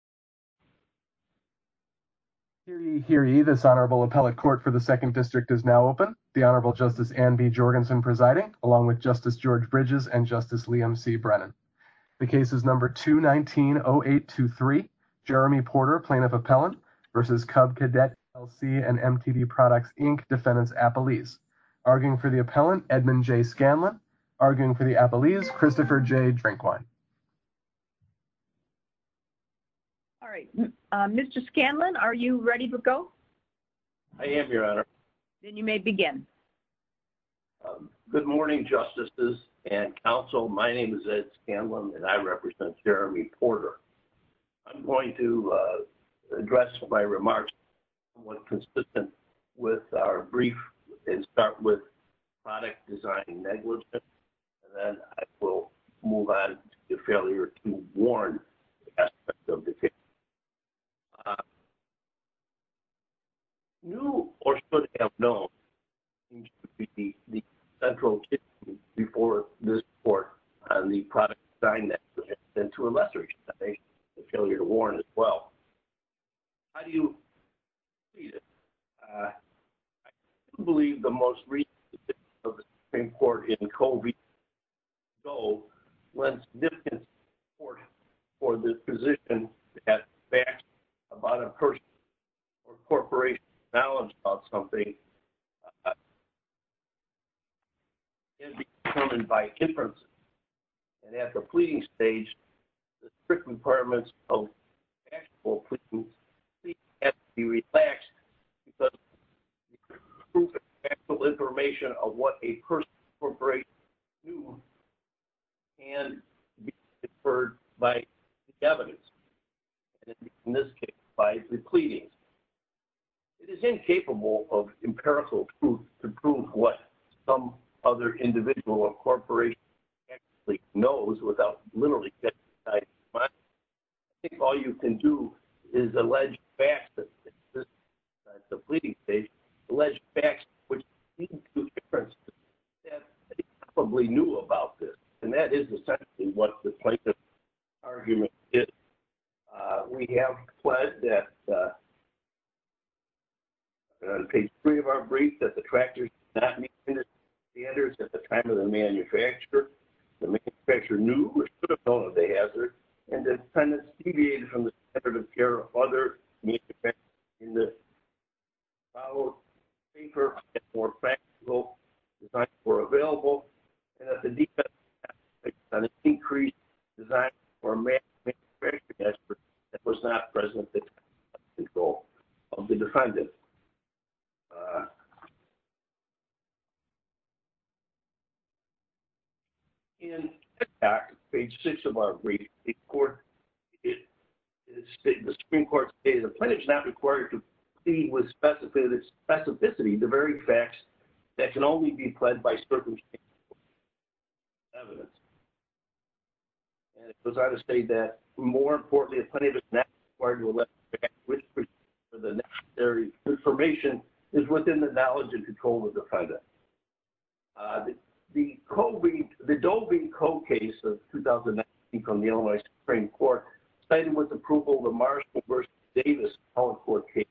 and MTV Products, Inc. Defendant's Appellees. Arguing for the Appellees, Christopher J. Drinkwine. This Honorable Appellate Court for the 2nd District is now open. The Honorable Justice Anne B. Jorgensen presiding, along with Justice George Bridges and Justice Liam C. Brennan. The case is number 219-0823. Jeremy Porter, Plaintiff Appellant v. Cub Cadet, LLC and MTV Products, Inc. Defendant's Appellees. Arguing for the Appellant, Edmund J. Scanlon. Arguing for the Appellees, Christopher J. Drinkwine. All right. Mr. Scanlon, are you ready to go? I am, Your Honor. Then you may begin. Good morning, Justices and Counsel. My name is Ed Scanlon and I represent Jeremy Porter. I'm going to address my remarks somewhat consistent with our brief and start with product design negligence and then I will move on to the failure to warn aspects of the case. New or should have known the central issue before this Court on the product design negligence and to a lesser extent the failure to warn as well. How do you read it? I believe the most recent Supreme Court in COVID when significant support for the position that facts about a person or corporation's knowledge about something can be determined by inferences and at the pleading stage the strict requirements of factual proof have to be relaxed because the factual information of what a person or corporation can do can be inferred by evidence and in this case by the pleading. It is incapable of empirical proof to prove what some other individual or corporation actually knows without I think all you can do is allege facts at the pleading stage that they probably knew about this and that is essentially what the plaintiff's argument is. We have pledged on page 3 of our brief that the tractors at the time of the manufacture the manufacturer knew and deviated from the standard of care of other manufacturers and more factual were available and that the defense increased and that the plaintiff decided for a manufacturer that was not present at the time of control of the defendant. In page 6 of our brief the Supreme Court stated the plaintiff is not required to plead with specificity the very facts that can only be pledged by circumstantial evidence and it goes out to say that more importantly the plaintiff is not required to allege facts with the necessary information is within the knowledge and control of the defendant. The Doe v. Coe case of 2019 from the Illinois Supreme Court cited with approval the Marshall v. Davis case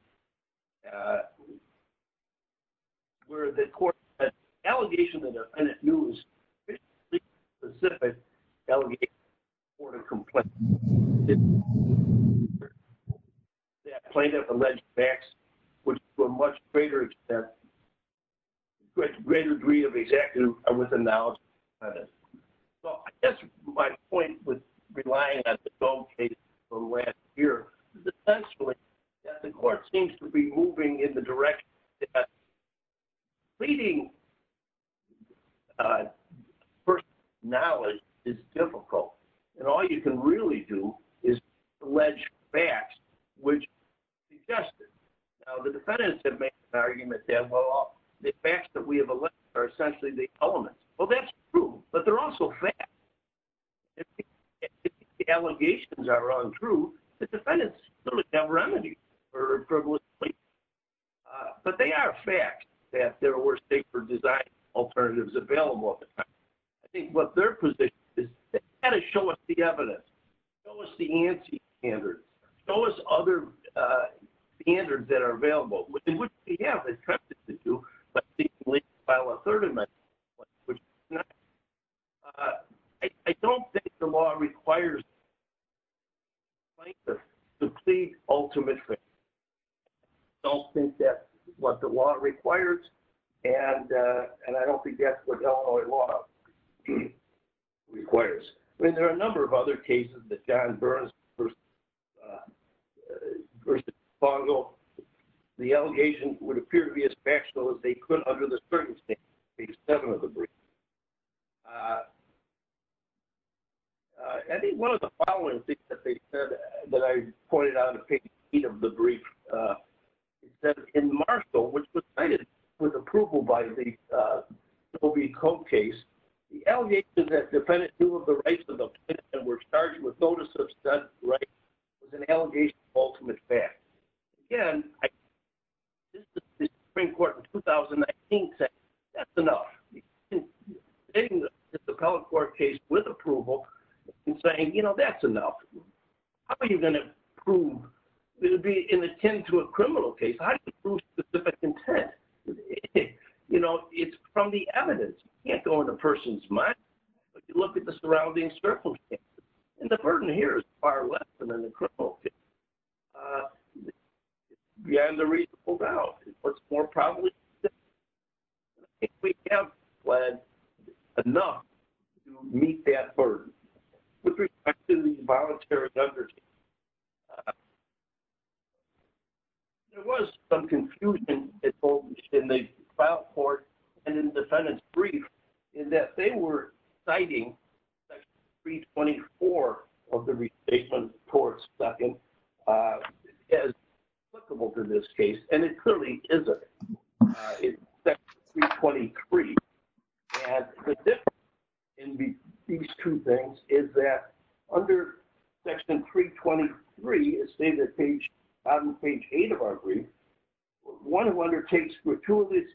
where the court said the allegation of the defendant knew specific allegations for the complaint that the plaintiff alleged facts were to a much greater extent greater degree of exactness within the knowledge of the defendant. So I guess my point was relying on the Doe case from last year is essentially that the court seems to be moving in the direction that pleading personal knowledge is difficult and all you can really do is allege facts which suggest it. Now the defendants have made the argument that the facts that we have alleged are essentially the elements. Well that's true, but they're also facts. If the allegations are untrue the defendants still have remedies for a frivolous complaint. But they are facts that there were safer design alternatives available at the time. I think what their position is they've got to show us the evidence, show us the anti standards, show us other standards that are available. I don't think the law requires the plaintiff to plead ultimate fairness. I don't think that's what the law requires and I don't think that's what Illinois law requires. I mean there are a number of other cases that John Berns versus Fongo the allegations would appear to be as factual as they could under the circumstances of page 7 of the brief. I think one of the following things that they said that I pointed out in page 8 of the brief is that in Marshall which was cited with approval by the Cobe case, the allegations that defendants knew of the case of the plaintiff and were charged with notice of such rights is an allegation of ultimate fairness. Again, the Supreme Court in 2019 said that's enough. In the Appellate Court case with approval it's saying you know that's enough. How are you going to prove it would be in attendance to a criminal case? How do you prove specific intent? You know it's from the evidence. You can't go in a person's mind but you look at the surrounding circumstances and the burden here is far less than in the criminal case. Beyond a reasonable doubt what's more probably we have enough to meet that burden with respect to the involuntary undertaking. There was some confusion in the trial court and in the defendant's brief in that they were citing section 324 of the restatement as applicable to this case and it clearly isn't. It's section 323 and the difference in these two things is that under section 323 it's stated on page 8 of our brief that one who undertakes gratuitously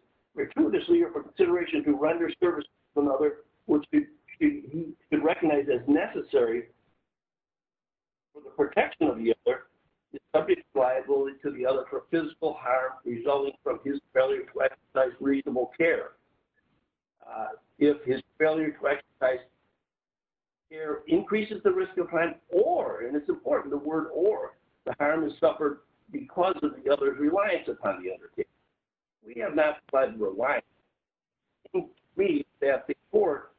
or for consideration to render services to another which he should recognize as necessary for the protection of the other is subject to liability to the other for physical harm resulting from his failure to exercise reasonable care. If his failure to exercise reasonable care increases the risk of crime or and it's important the word or the harm is suffered because of the other's reliance upon the other. We have not relied on the brief that the court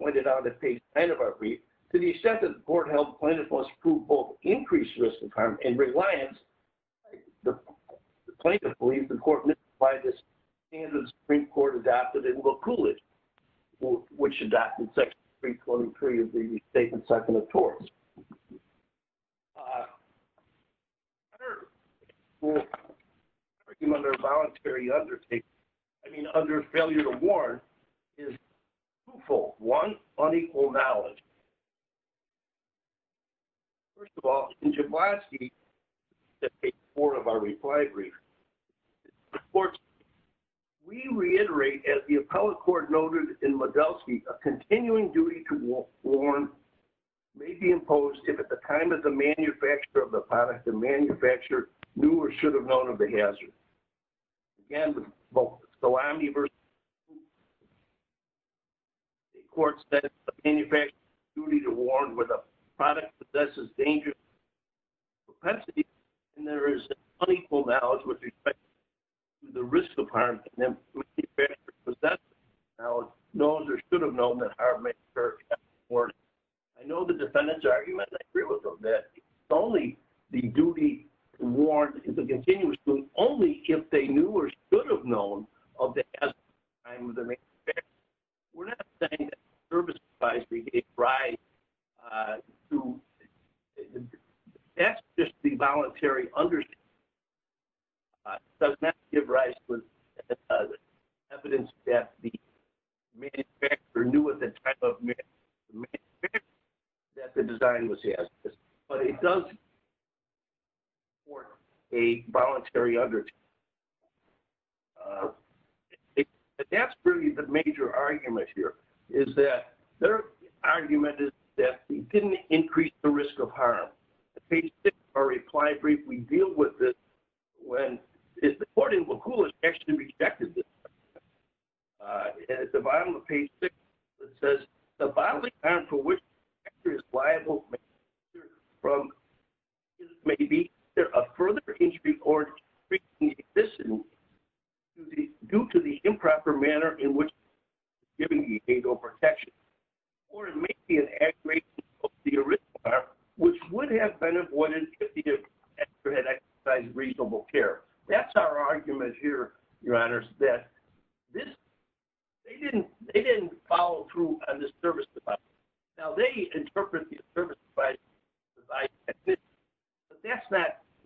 pointed out on page 9 of our brief. To the extent that the court held plaintiff must prove both increased risk of harm and reliance the plaintiff believes the court must by this standard Supreme Court adopted and will pool it which adopted section 323 of the statement section of TORS. Under under voluntary undertaking I mean under failure to warn is twofold. One, unequal knowledge. First of all in Jablonski that page 4 of our reply brief reports we reiterate as the appellate court noted in Modelski a continuing duty to warn may be imposed if at the time of the manufacturer of the product the manufacturer knew or should have known of the hazard. The court said the manufacturer has a duty to warn when the product possesses dangerous capacity and there is unequal knowledge with respect to the risk of harm. I know the defendant's argument is that solely the duty to warn is a continuous duty only if they knew or should have known of the hazard at the time of the manufacturer. We are not saying that the service advisory gave rise to that is just the voluntary understanding does not give rise to evidence that the manufacturer knew at the time of the manufacturer that the design was hazardous but it does support a voluntary undertaking. That is really the major argument here is that their argument is that we did not increase the risk of harm. when the court in Wakula rejected this, at the bottom of page 6 it says the bodily harm for which the manufacturer is liable may be either a further injury or a decrease in the existence due to the improper manner in which the manufacturer is giving the behavioral protection. Or it may be an aggravation of the original harm which would have been avoided if the manufacturer had I think it is important to remember that they did not follow through on the service advisory. It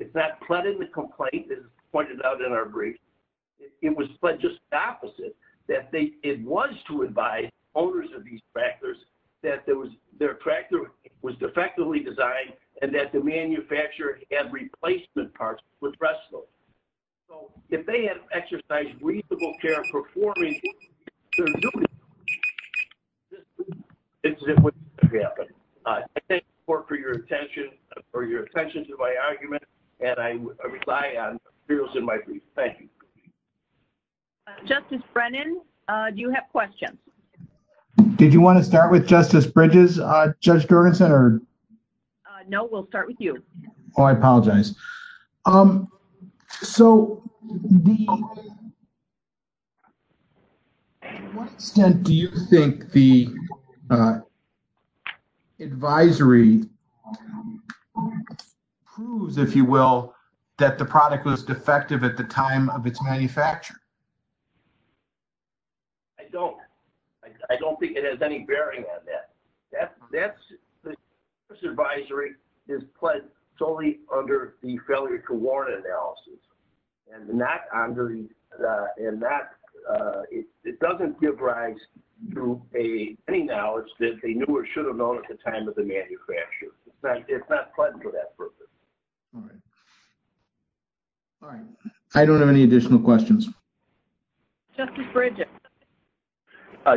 is not flooding the complaint as pointed out in our brief. It was just the opposite. It was to advise owners of these that the manufacturer had replacement parts with breast milk. If they had exercised reasonable care in performing their duty, this would not have happened. I thank the court for your attention to my argument and I rely on the materials in my brief. Thank you. Justice Brennan, do you have questions? Did you want to start with Justice Bridges? No, we will start with you. I apologize. To what extent do you think the advisory proves that the product was defective at the time of its manufacture? I don't. I don't think it has any bearing on that. The service advisory is pledged solely under the failure to warrant analysis. It doesn't give rise to any knowledge that they knew or should have known at the time of the manufacture. It is not pledged for that purpose. I don't have any additional questions. Justice Bridges?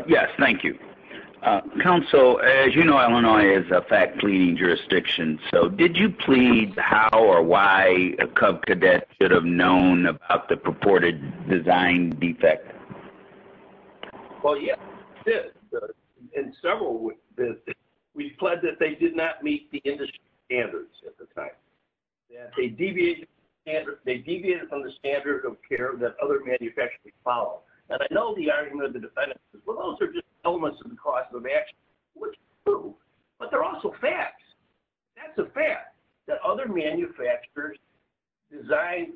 Yes, thank you. Counsel, as you know, Illinois is a fact-cleaning jurisdiction. Did you plead how or why a Cub cadet should have known about the purported design defect? Yes, we did. We pled that they did not meet the industry standards at the time. They deviated from the standard of care that other manufacturers follow. I know the argument of the defendants is that those are just elements of the cost of action. That is true, but they are also facts. That is a fact that other manufacturers designed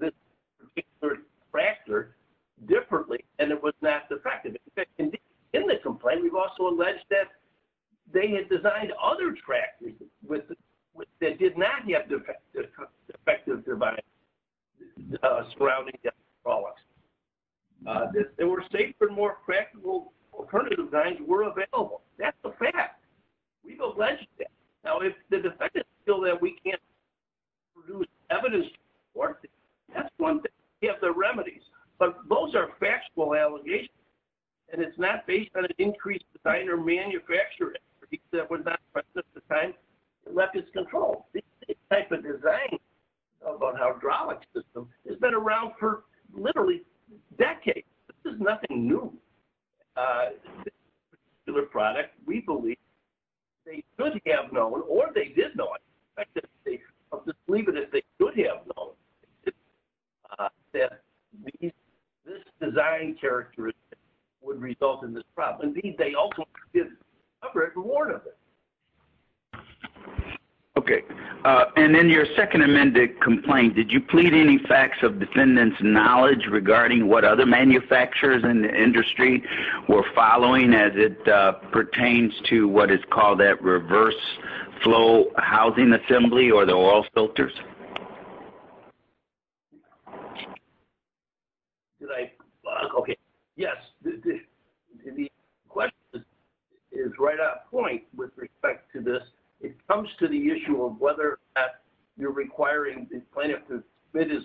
this particular tractor differently and it was not defective. In the complaint, we have also alleged that they had designed other tractors that did not have defective devices surrounding them. They were safer and more practical alternative designs were available. That is a fact. We have alleged that. If the defendants feel that we can't produce evidence to support their claims, that is one thing. Those are factual allegations. It is not based on an increased design or manufacturer. This type of design about hydraulic systems has been around for literally decades. This is nothing new. We believe that they could have known or they did know that this design characteristic would result in this problem. Indeed, they also did cover it and warned of it. Your second amended complaint, did you plead any facts of defendant's knowledge regarding what other manufacturers in the industry were following as it pertains to what is called that reverse flow housing assembly or the oil filters? Yes. The question is right on point with respect to this. It comes to the issue of whether you are requiring the plaintiff to submit his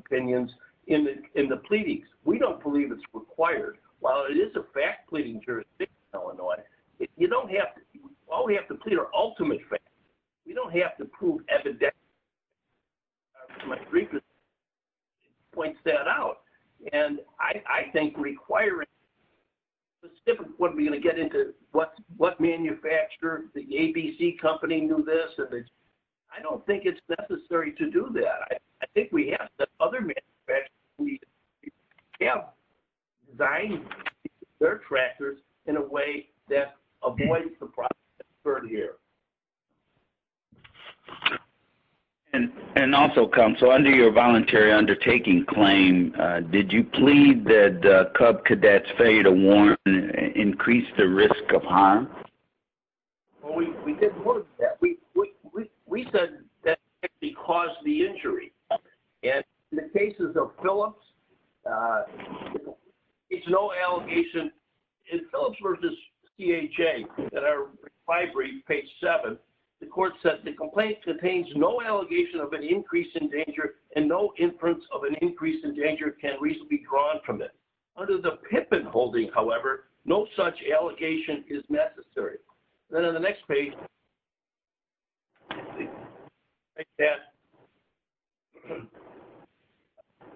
opinions in the pleadings. We don't believe it is required. While it is a fact pleading jurisdiction, you don't have to prove evidence. I think requiring what manufacturer did this, I don't think it is necessary to do that. Other manufacturers have designed their tractors in a way that avoids the problem. Also, under your voluntary undertaking claim, did you plead that the Cub Cadets to increase the risk of harm? We said that caused the injury. In the case of Phillips, there is no allegation. The complaint contains no allegation of an increase in danger and no inference of an increase in danger. Under the Pippin holding, no such allegation is necessary. On the next page,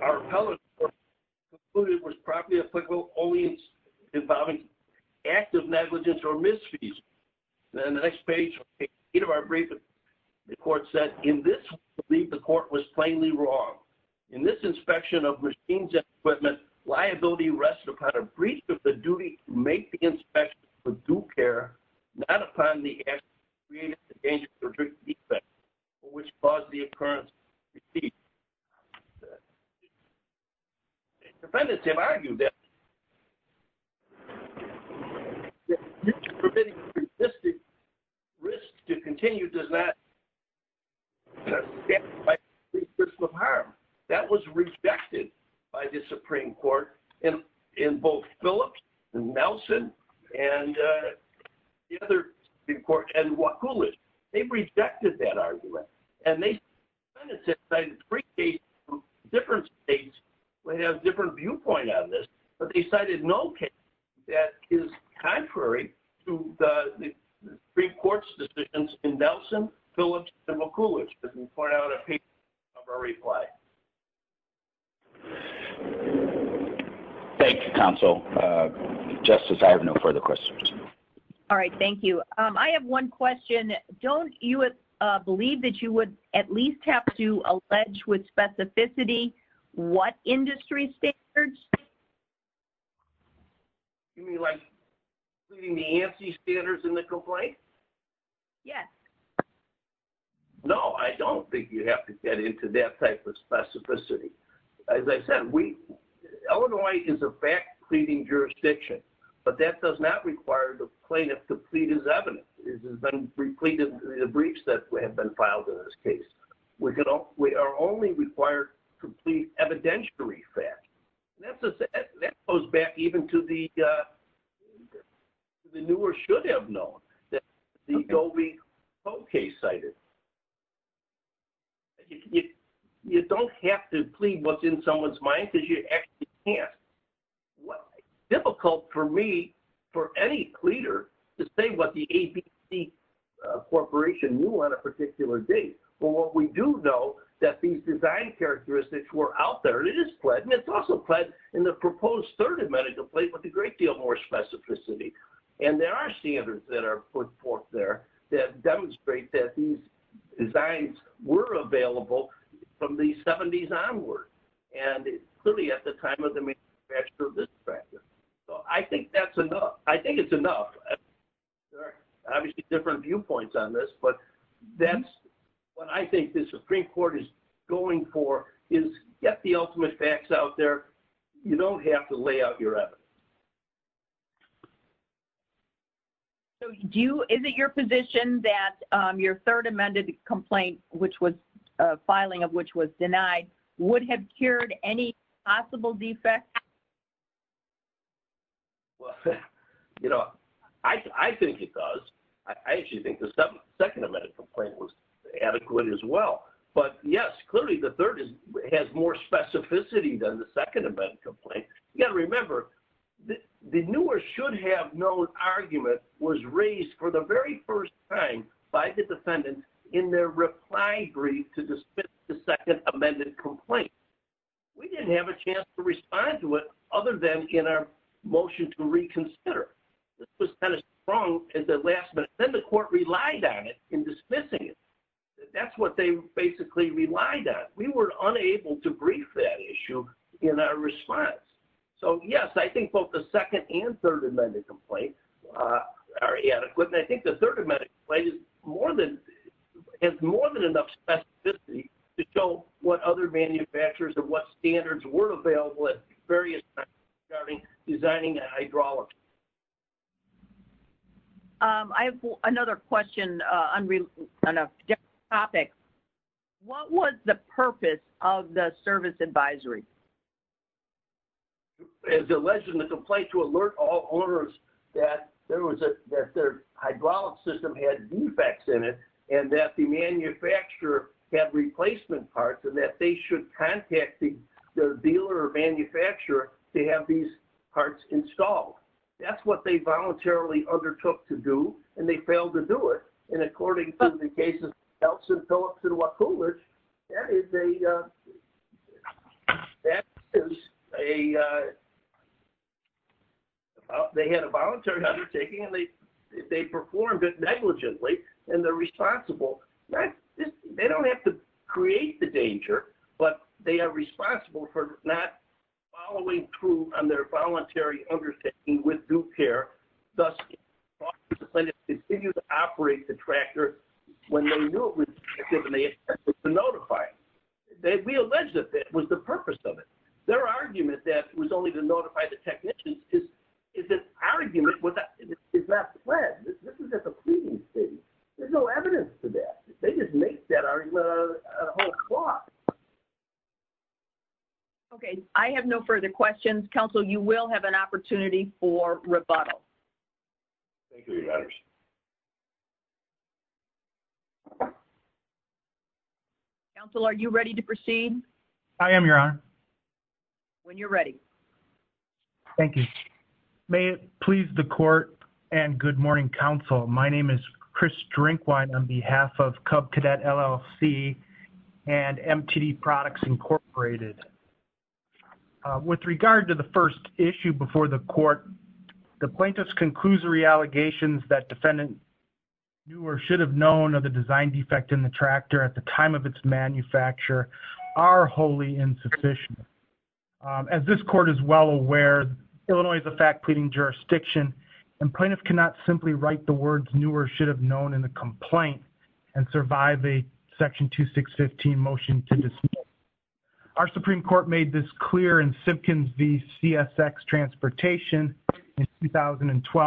our appellate was properly applicable only involving active negligence or misfeasance. On the next page, the court said that the court was plainly wrong. In this inspection of machines and equipment, liability rests upon a breach of the duty to make the inspection with due care not upon the actions which caused the occurrence. Defendants have argued that the risk to continue does not. That was rejected by the Supreme Court in both Phillips and Nelson and the other Supreme Court. They rejected that argument. They cited three cases in different states. They cited no case that is contrary to the Supreme Court's decisions. Thank you. I have no further questions. Thank you. I have one question. Don't you believe that you would at least have to allege with specificity what industry standards? Yes. No, I don't think you have to get into that type of specificity. As I said, Illinois is a fact pleading jurisdiction, but that does not require the plaintiff to plead as evident. We are only required to plead evidentiary facts. That goes back even to the newer should have known. You don't have to plead what is in someone's mind. It is difficult for any pleader to say what the corporation knew on a particular date. We do know that these design characteristics were out there. There are standards that are put forth there that demonstrate that these designs were available from the 70s onward. I think it is enough. There are different viewpoints on this, but that is what I think the Supreme Court is going for. Get the ultimate facts out there. You don't have to lay out your evidence. Is it your position that your third amended complaint, filing of which was denied, would have cured any possible defects? I think it does. I think the second amended complaint was adequate as well. The third has more specificity than the second. The newer should have known argument was raised for the very first time by the defendant in their reply. We did not have a chance to respond to it other than in our motion to reconsider. Then the court relied on it in dismissing it. That is what they relied on. We were unable to brief that issue in our response. Yes, I think both the second and third amended complaint are adequate. I think the third amended complaint has more than enough specificity to show what other manufacturers and what standards were available. I have another question. What was the purpose The complaint to alert all owners that their hydraulic system had defects in it and that the manufacturer had replacement parts and that they should contact the dealer or manufacturer to have these parts installed. That is what they voluntarily undertook to do and they failed to do it. That is a. They are responsible. They don't have to create the danger but they are responsible for not following through on their voluntary undertaking with due care. We allege that that was the purpose of it. Their argument that it was only to notify the technician. It is an argument. There is no evidence to that. They just make that argument. I have no further questions. You will have an opportunity for rebuttal. Are you ready to proceed? I am. When you are ready. May it please the court. My name is Chris With regard to the first issue before the court, the plaintiff's. As this court is well aware, Illinois is a fact pleading jurisdiction. Our Supreme Court made this clear.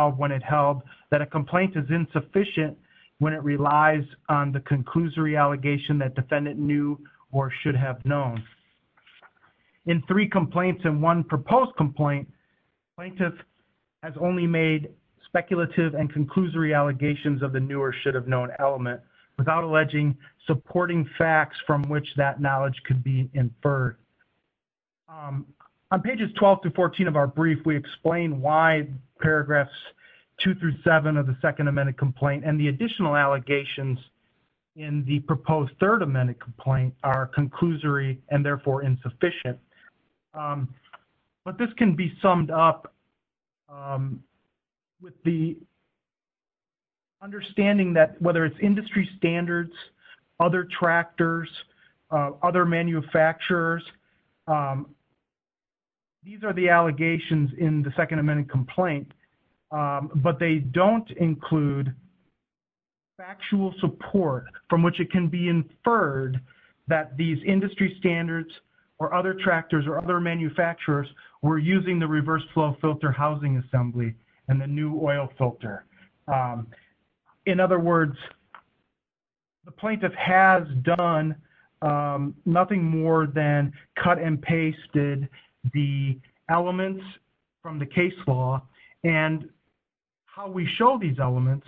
When it held that a complaint is insufficient when it relies on the conclusory allegation that the defendant knew or should have known. In three complaints and one proposed complaint, the plaintiff has only made speculative and conclusory allegations. On pages 12-14 of our brief we explain why paragraphs 2-7 and the additional allegations in the proposed third amendment complaint are conclusory and therefore insufficient. This can be summed up with the understanding that whether it is industry standards, other tractors, other manufacturers, these are the allegations in the second amendment complaint, but they don't include factual support from which it can be inferred that these industry standards or other tractors or other manufacturers were using the reverse flow filter housing assembly and the new oil filter. In other words, the plaintiff has done nothing more than cut and pasted the elements from the case law and how we show these elements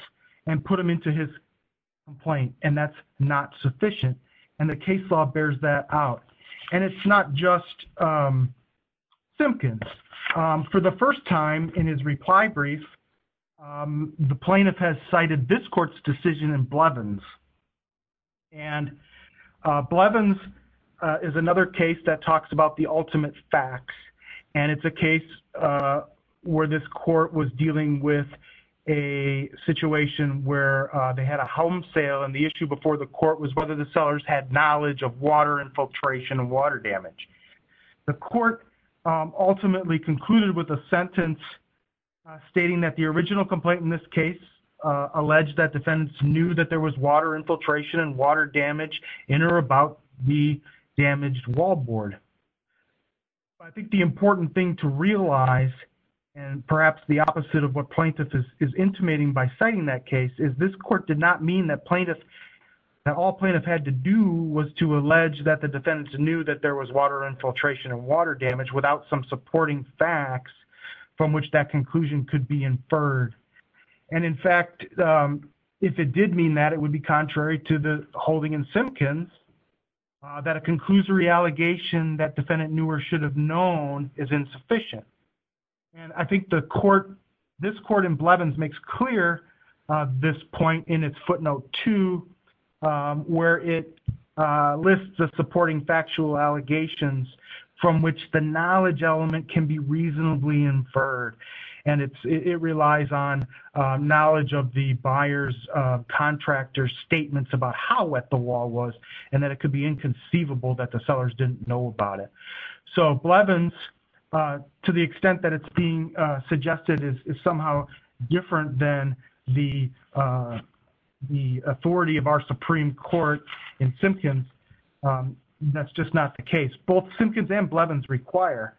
and put them into his complaint and that is not sufficient. The case law bears that out. It is not just Simpkins. For the first time in his reply brief, the plaintiff has cited this court's decision in Blevins. Blevins is another case that talks about the ultimate facts and it is a case where this court was dealing with a situation where they had a home sale and the issue before the court was whether the sellers had knowledge of water infiltration and water damage. The court ultimately concluded with a sentence stating that the original complaint in this case alleged that defendants knew that there was water infiltration and water damage in or about the damaged wall board. I think the important thing to realize and perhaps the opposite of what plaintiffs is intimating by citing that case is that this court did not mean that all plaintiffs had to do was to allege that the defendants knew that there was water infiltration and water damage without some supporting facts from which that conclusion could be inferred. In fact, if it did mean that, it would be contrary to the holding in Simpkins that a conclusory allegation that defendant knew or should have known is insufficient. I think this court in Blevins makes clear this point in its footnote 2 where it lists the supporting factual allegations from which the knowledge element can be reasonably inferred. It relies on knowledge of the buyer's contractor's statements about how wet the wall was and that it could be inconceivable that the sellers didn't know about it. Blevins, to the extent that it's being suggested, is somehow different than the authority of our Supreme Court in Simpkins. That's just not the case. Both Simpkins and Blevins require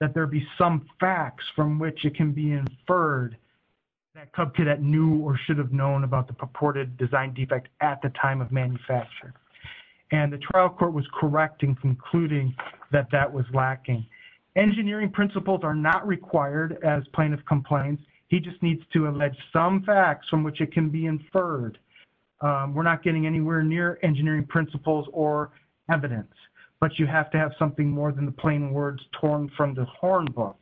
that there be some facts from which it can be inferred that cub cadet knew or should have known about the purported design defect at the time of manufacture. The trial court was correct in concluding that that was lacking. Engineering principles are not required as plaintiff complains. He just needs to allege some facts from which it can be inferred. We're not getting anywhere near engineering principles or evidence, but you have to have something more than the plain words torn from the horn book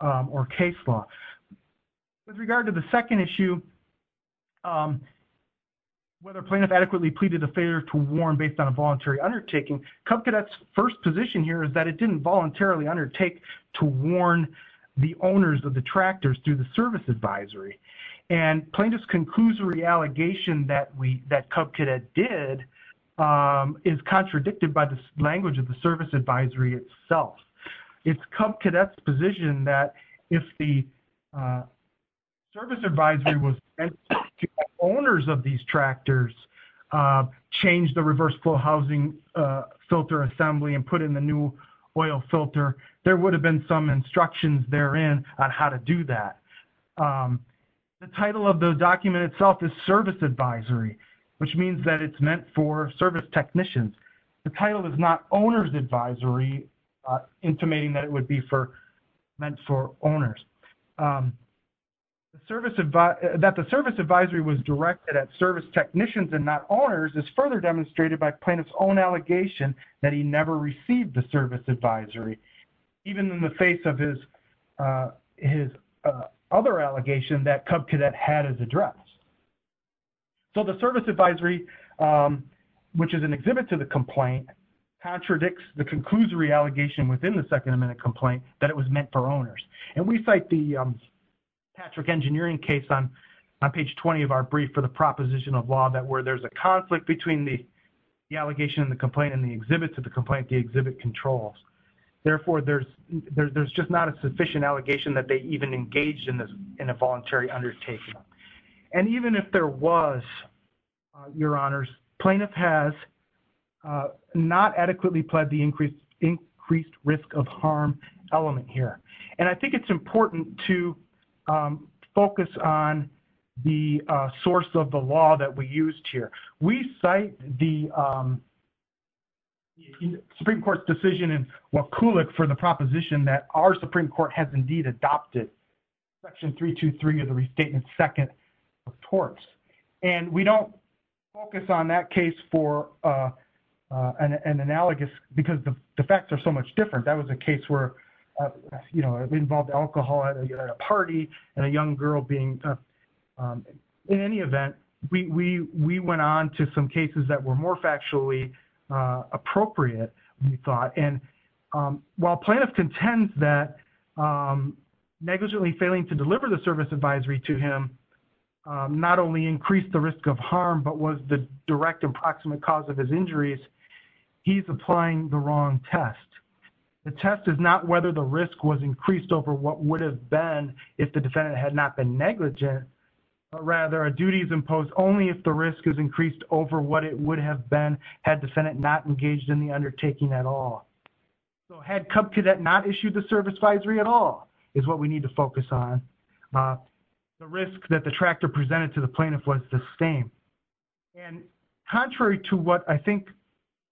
or case law. With regard to the second issue, whether plaintiff adequately pleaded a failure to warn based on a voluntary undertaking, cub cadet's first position here is that it didn't voluntarily undertake to warn the owners of the tractors through the service advisory. Plaintiff's conclusory allegation that cub cadet did is contradicted by the language of the service advisory itself. It's cub cadet's position that if the service advisory was sent to the owners of these tractors, change the reverse flow housing filter assembly and put in the new oil filter, there would have been some instructions therein on how to do that. The title of the document itself is service advisory, which means that it's meant for service technicians. The title is not owner's advisory, intimating that it would be meant for owners. That the service advisory was directed at service technicians and not owners is further demonstrated by plaintiff's own allegation that he never received the service advisory. Even in the face of his other allegation that cub cadet had as addressed. The service advisory, which is an exhibit to the complaint, contradicts the conclusory allegation within the Second Amendment complaint that it was meant for owners. We cite the Patrick Engineering case on page 20 of our brief for the proposition of law that where there's a conflict between the allegation and the complaint and the exhibit to the complaint, the exhibit controls. Therefore, there's just not a sufficient allegation that they even engaged in a voluntary undertaking. Even if there was, your honors, plaintiff has not adequately pled the increased risk of harm element here. I think it's important to focus on the source of the law that we used here. We cite the Supreme Court's decision in Wakulik for the proposition that our Supreme Court has indeed adopted section 323 of the restatement second of torts. We don't focus on that case for an analogous because the facts are so much different. That was a case where it involved alcohol at a party and a young girl being drunk. In any event, we went on to some cases that were more factually appropriate, we thought. While plaintiff contends that negligently failing to deliver the service advisory to him not only increased the risk of harm but was the direct approximate cause of his injuries, he's applying the wrong test. The test is not whether the risk was increased over what would have been if the defendant had not been negligent but rather a duty is imposed only if the risk is increased over what it would have been had defendant not engaged in the undertaking at all. Had Cub Cadet not issued the service advisory at all is what we need to focus on. The risk that the tractor presented to the plaintiff was the same.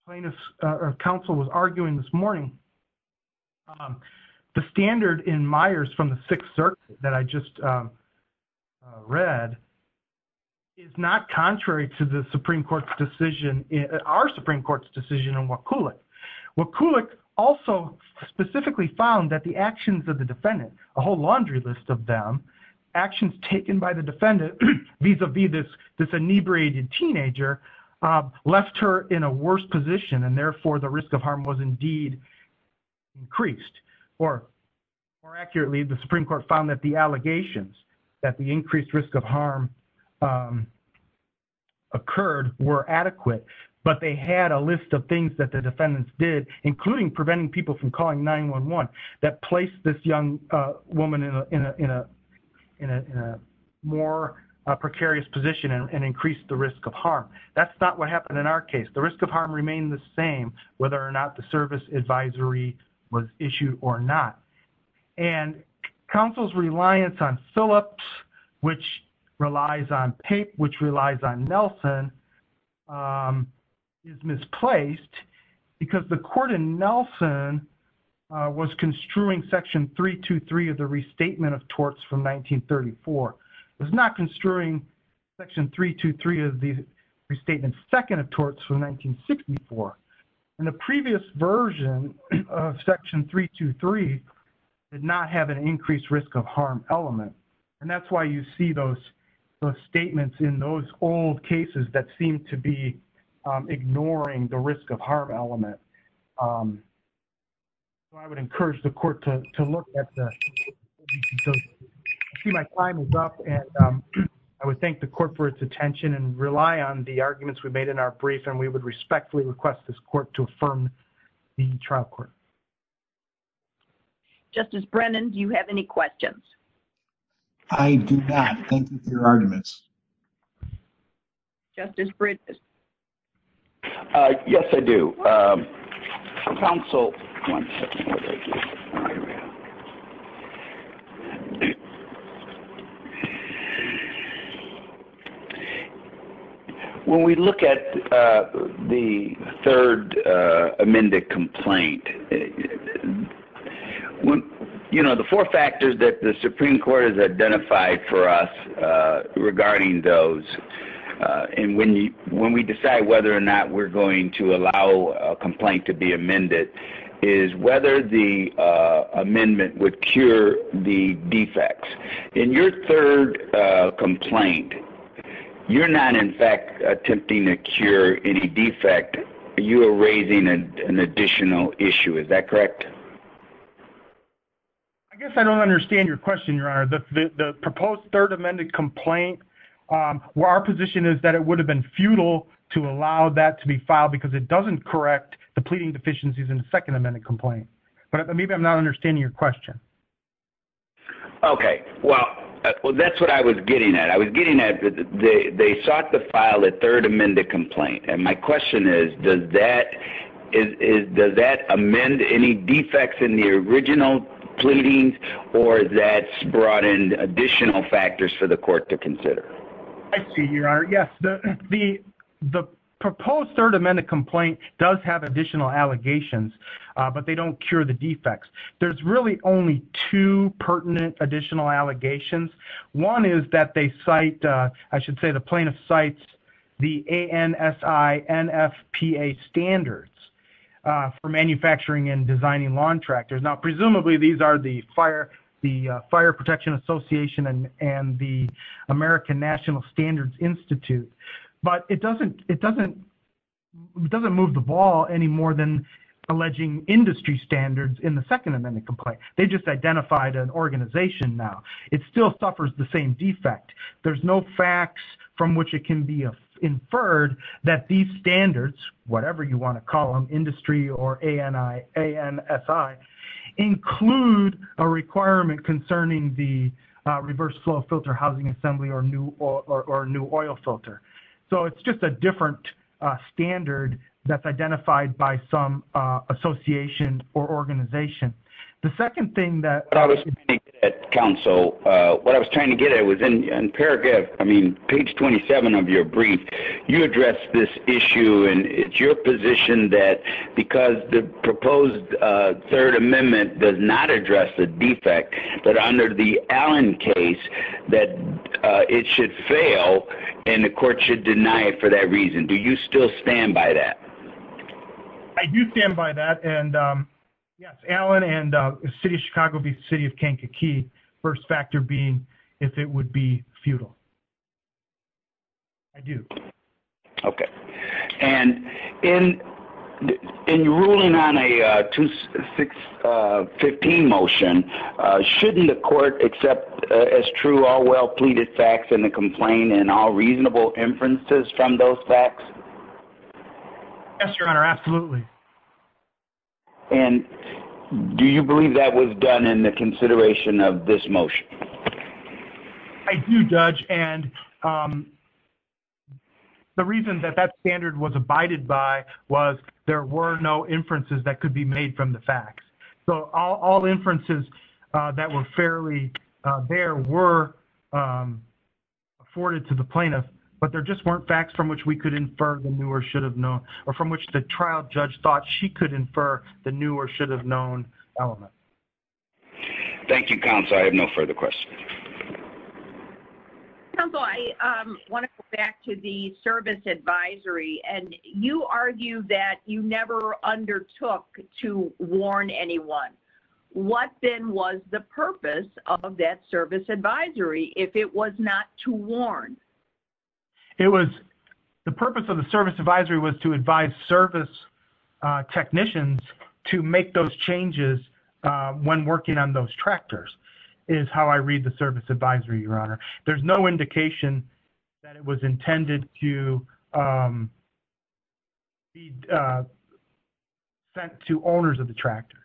plaintiff or counsel was arguing this morning, the standard in Myers from the 6th circuit that I just read is not contrary to the Supreme Court's decision, our Supreme Court's decision on Wakulik. Wakulik also specifically found that the actions of the defendant, a whole laundry list of them, actions taken by the defendant vis-a-vis this inebriated teenager left her in a worse position and therefore the risk of harm was indeed increased. More accurately, the Supreme Court found that the allegations that the increased risk of harm occurred were adequate but they had a list of things that the defendants did, including preventing people from calling 911 that placed this young woman in a more precarious position and increased the risk of harm. That's not what happened in our case. The risk of harm remained the same whether or not the service advisory was issued or not. And counsel's reliance on Phillips, which relies on Pape, which relies on Nelson is misplaced because the court in Nelson was construing section 323 of the restatement of torts from 1934. It was not construing section 323 of the restatement second of torts from 1964. And the previous version of section 323 did not have an increased risk of harm element and that's why you see those statements in those old cases that seem to be ignoring the risk of harm element. I would encourage the court to look at the... I see my time is up and I would thank the court for its attention and rely on the arguments we made in our brief and we would respectfully request this court to affirm the trial court. Justice Brennan, do you have any questions? I do not. Thank you for your arguments. Justice Bridges? Yes, I do. Counsel... When we look at the third amended complaint, you know, the four factors that the Supreme Court has identified for us regarding those and when we decide whether or not we are going to allow a complaint to be amended is whether the amendment would cure the defects. In your third complaint, you are not in fact attempting to cure any defect. You are raising an additional issue. Is that correct? I guess I don't understand your question, Your Honor. The proposed third amended complaint, where our position is that it would have been futile to allow that to be filed because it doesn't correct the pleading deficiencies in the second amended complaint. Maybe I'm not understanding your question. That's what I was getting at. They sought to file a third amended complaint. My question is, does that amend any defects in the original pleadings or has that brought in additional factors for the court to consider? I see, Your Honor. Yes, the proposed third amended complaint does have additional allegations, but they don't cure the defects. There's really only two pertinent additional allegations. One is that they cite, I should say the plaintiff cites the ANSI NFPA standards for manufacturing and designing lawn tractors. Presumably these are the Fire Protection Association and the American National Standards Institute, but it doesn't move the ball any more than alleging industry standards in the second amended complaint. They just identified an organization now. It still suffers the same defect. There's no facts from which it can be inferred that these standards, whatever you want to call them, industry or ANSI, include a requirement concerning the reverse flow filter housing assembly or new oil filter. So it's just a different standard that's identified by some association or organization. The second thing that... Counsel, what I was trying to get at was in paragraph, I mean, page 27 of your brief, you address this issue and it's your position that because the proposed third amendment does not address the defect, that under the Allen case that it should fail and the court should deny it for that reason. Do you still stand by that? I do stand by that. And yes, Allen and the City of Chicago v. City of Kankakee, first factor being if it would be futile. I do. Okay. And in ruling on a 215 motion, shouldn't the court accept as true all well pleaded facts in the complaint and all reasonable inferences from those facts? Yes, Your Honor, absolutely. And do you believe that was done in the consideration of this motion? I do, Judge, and the reason that that standard was abided by was there were no inferences that could be made from the facts. So all inferences that were fairly there were afforded to the plaintiff, but there just weren't facts from which we could infer the new or should have known or from which the trial judge thought she could infer the new or should have known element. Thank you, Counselor. I have no further questions. Counselor, I want to go back to the service advisory and you argue that you never undertook to warn anyone. What then was the purpose of that service advisory if it was not to warn? The purpose of the service advisory was to advise service technicians to make those changes when working on those tractors is how I read the service advisory, Your Honor. There's no indication that it was intended to be sent to owners of the tractors.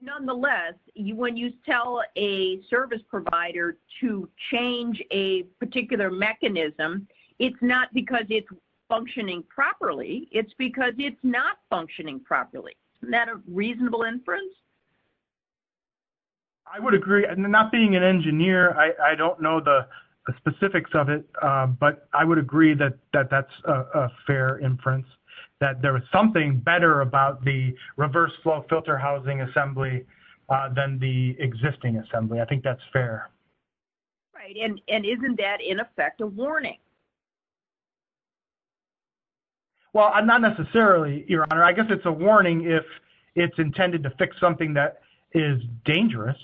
Nonetheless, when you tell a service provider to change a particular mechanism, it's not because it's functioning properly. It's because it's not functioning properly. Isn't that a reasonable inference? I would agree. Not being an engineer, I don't know the specifics of it, but I would agree that that's a fair inference, that there was something better about the reverse flow filter housing assembly than the existing assembly. I think that's fair. Isn't that in effect a warning? Well, not necessarily, Your Honor. I guess it's a warning if it's intended to fix something that is dangerous.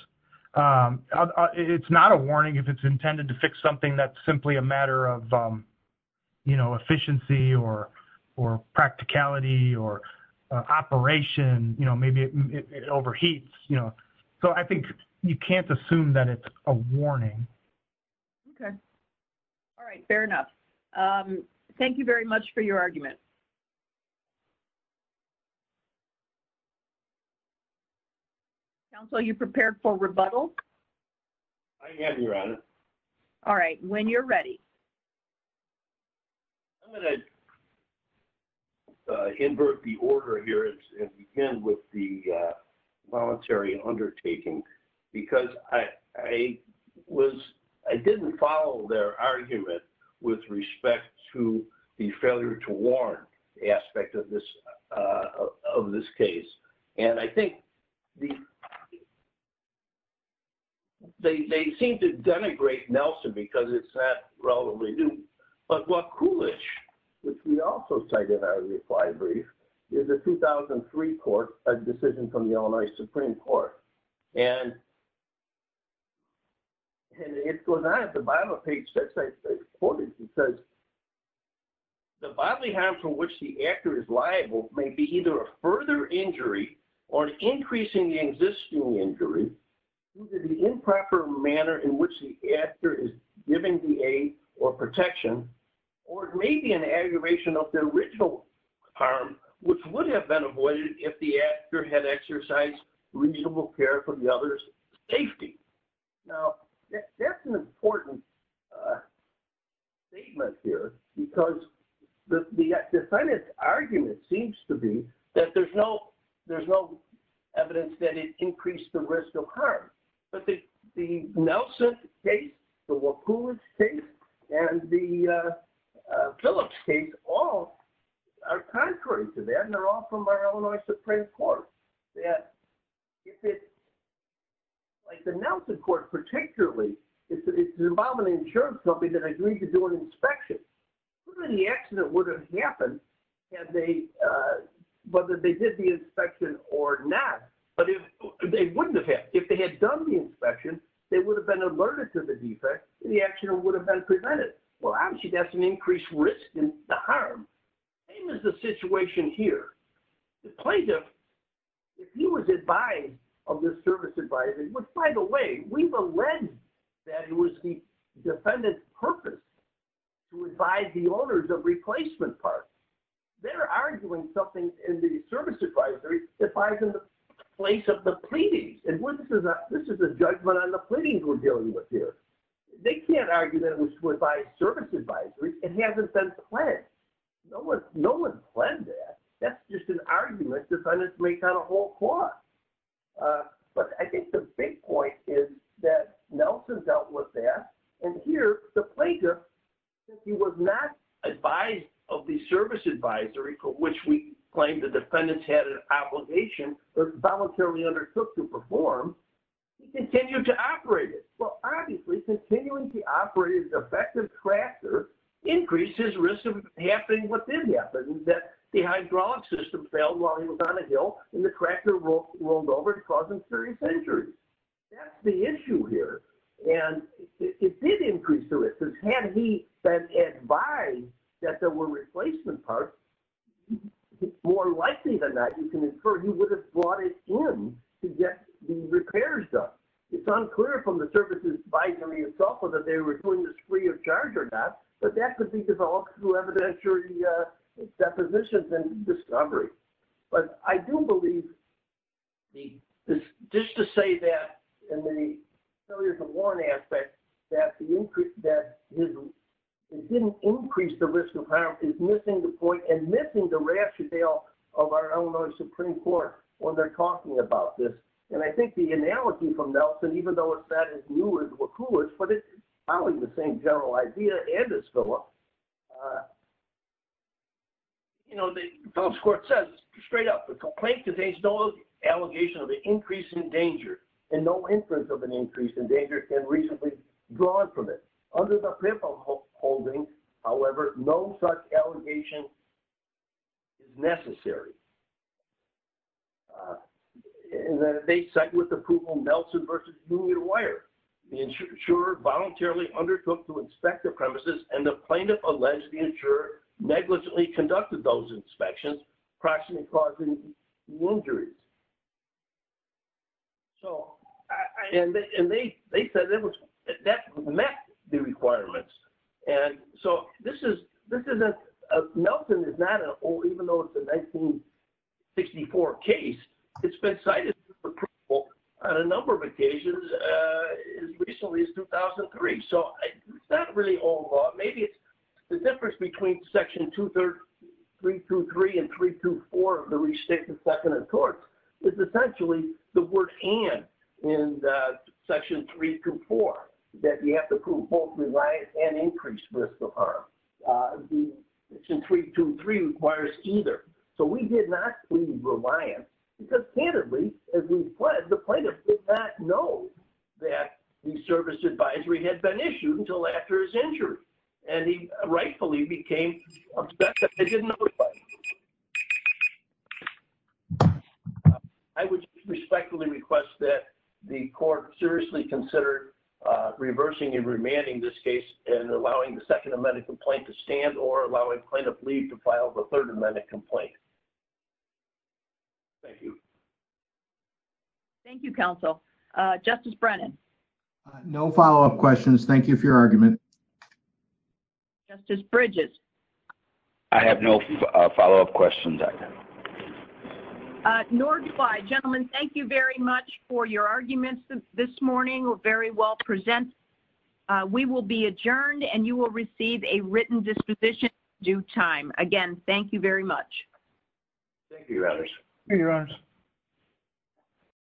It's not a warning if it's intended to fix something that's simply a matter of efficiency or practicality or operation. Maybe it overheats. I think you can't assume that it's a warning. Fair enough. Thank you very much for your argument. Counsel, are you prepared for rebuttal? I am, Your Honor. All right. When you're ready. I'm going to invert the order here and begin with the voluntary undertaking because I didn't follow their argument with respect to the failure to warn. I'm just going to go through one aspect of this case. I think they seem to denigrate Nelson because it's not relatively new. What Kulish, which we also cited in our reply brief, is a 2003 court, a decision from the Illinois Supreme Court. And it goes on at the bottom of the page that says the bodily harm for which the actor is liable may be either a further injury or an increase in the existing injury due to the improper manner in which the actor is giving the aid or protection or it may be an aggravation of the original harm, which would have been avoided if the other's safety. That's an important statement here because the argument seems to be that there's no evidence that it increased the risk of harm. But the Nelson case, the Wakulish case, and the Phillips case all are contrary to that and they're all from our Illinois Supreme Court. Like the Nelson court particularly, it's an insurance company that agreed to do an inspection. The accident would have happened whether they did the inspection or not. But they wouldn't have. If they had done the inspection, they would have been alerted to the defect and the accident would have been prevented. Well, actually, that's an increased risk in the harm. The plaintiff, if he was advised of this service advisory, which, by the way, we've alleged that it was the defendant's purpose to advise the owners of replacement parts. They're arguing something in the service advisory advising the place of the pleadings. And this is a judgment on the pleadings we're dealing with here. They can't argue that it was to advise service advisories and it hasn't been planned. No one planned that. That's just an argument decided to make on a whole court. But I think the big point is that Nelson dealt with that. And here, the plaintiff, if he was not advised of the service advisory, for which we claim the defendants had an obligation that was voluntarily undertook to perform, he continued to operate it. Well, obviously, continuing to operate his effective tractor increased his risk of happening what did happen, that the hydraulic system failed while he was on a hill and the tractor rolled over and caused him serious injury. That's the issue here. And it did increase the risk. Had he been advised that there were replacement parts, it's more likely than not you can infer he would have brought it in to get the repairs done. It's unclear from the services advisory itself whether they were doing this free of charge or not, but that could be developed through evidentiary depositions and discovery. But I do believe just to say that in the failures of warrants aspect that it didn't increase the risk of harm is missing the point and missing the rationale of our Illinois Supreme Court when they're talking about this. And I think the analogy from Nelson, even though it's not as new as Wakula's, but it's probably the same general idea and as Philip's. You know, Philip's court says, straight up, the complaint contains no allegation of an increase in danger and no inference of an increase in danger has been recently drawn from it. Under the paper holding, however, no such allegation is necessary. They cite with approval Nelson v. New Year Wire. The insurer voluntarily undertook to inspect the premises and the plaintiff alleged the insurer negligently conducted those inspections, approximately causing injuries. And they said that met the requirements. And so this is Nelson is not an old, even though it's a 1964 case, it's been cited on a number of occasions as recently as 2003. So it's not really old law. Maybe it's the difference between section 23323 and 324 of the restricted second and third is essentially the word and in section 324 that you have to prove both reliance and increased risk of harm. Section 323 requires either. So we did not plead reliance because candidly, as we fled, the plaintiff did not know that the service advisory had been issued until after his injury and he rightfully became I didn't know. I would respectfully request that the court seriously consider reversing and remanding this case and allowing the second amendment complaint to stand or allowing plaintiff leave to file the third amendment complaint. Thank you. Thank you, counsel. Justice Brennan. No follow up questions. Thank you for your argument. Justice Bridges. I have no follow up questions. Nor do I. Gentlemen, thank you very much for your arguments this morning were very well presented. We will be adjourned and you will receive a written disposition due time. Again, thank you very much. Thank you.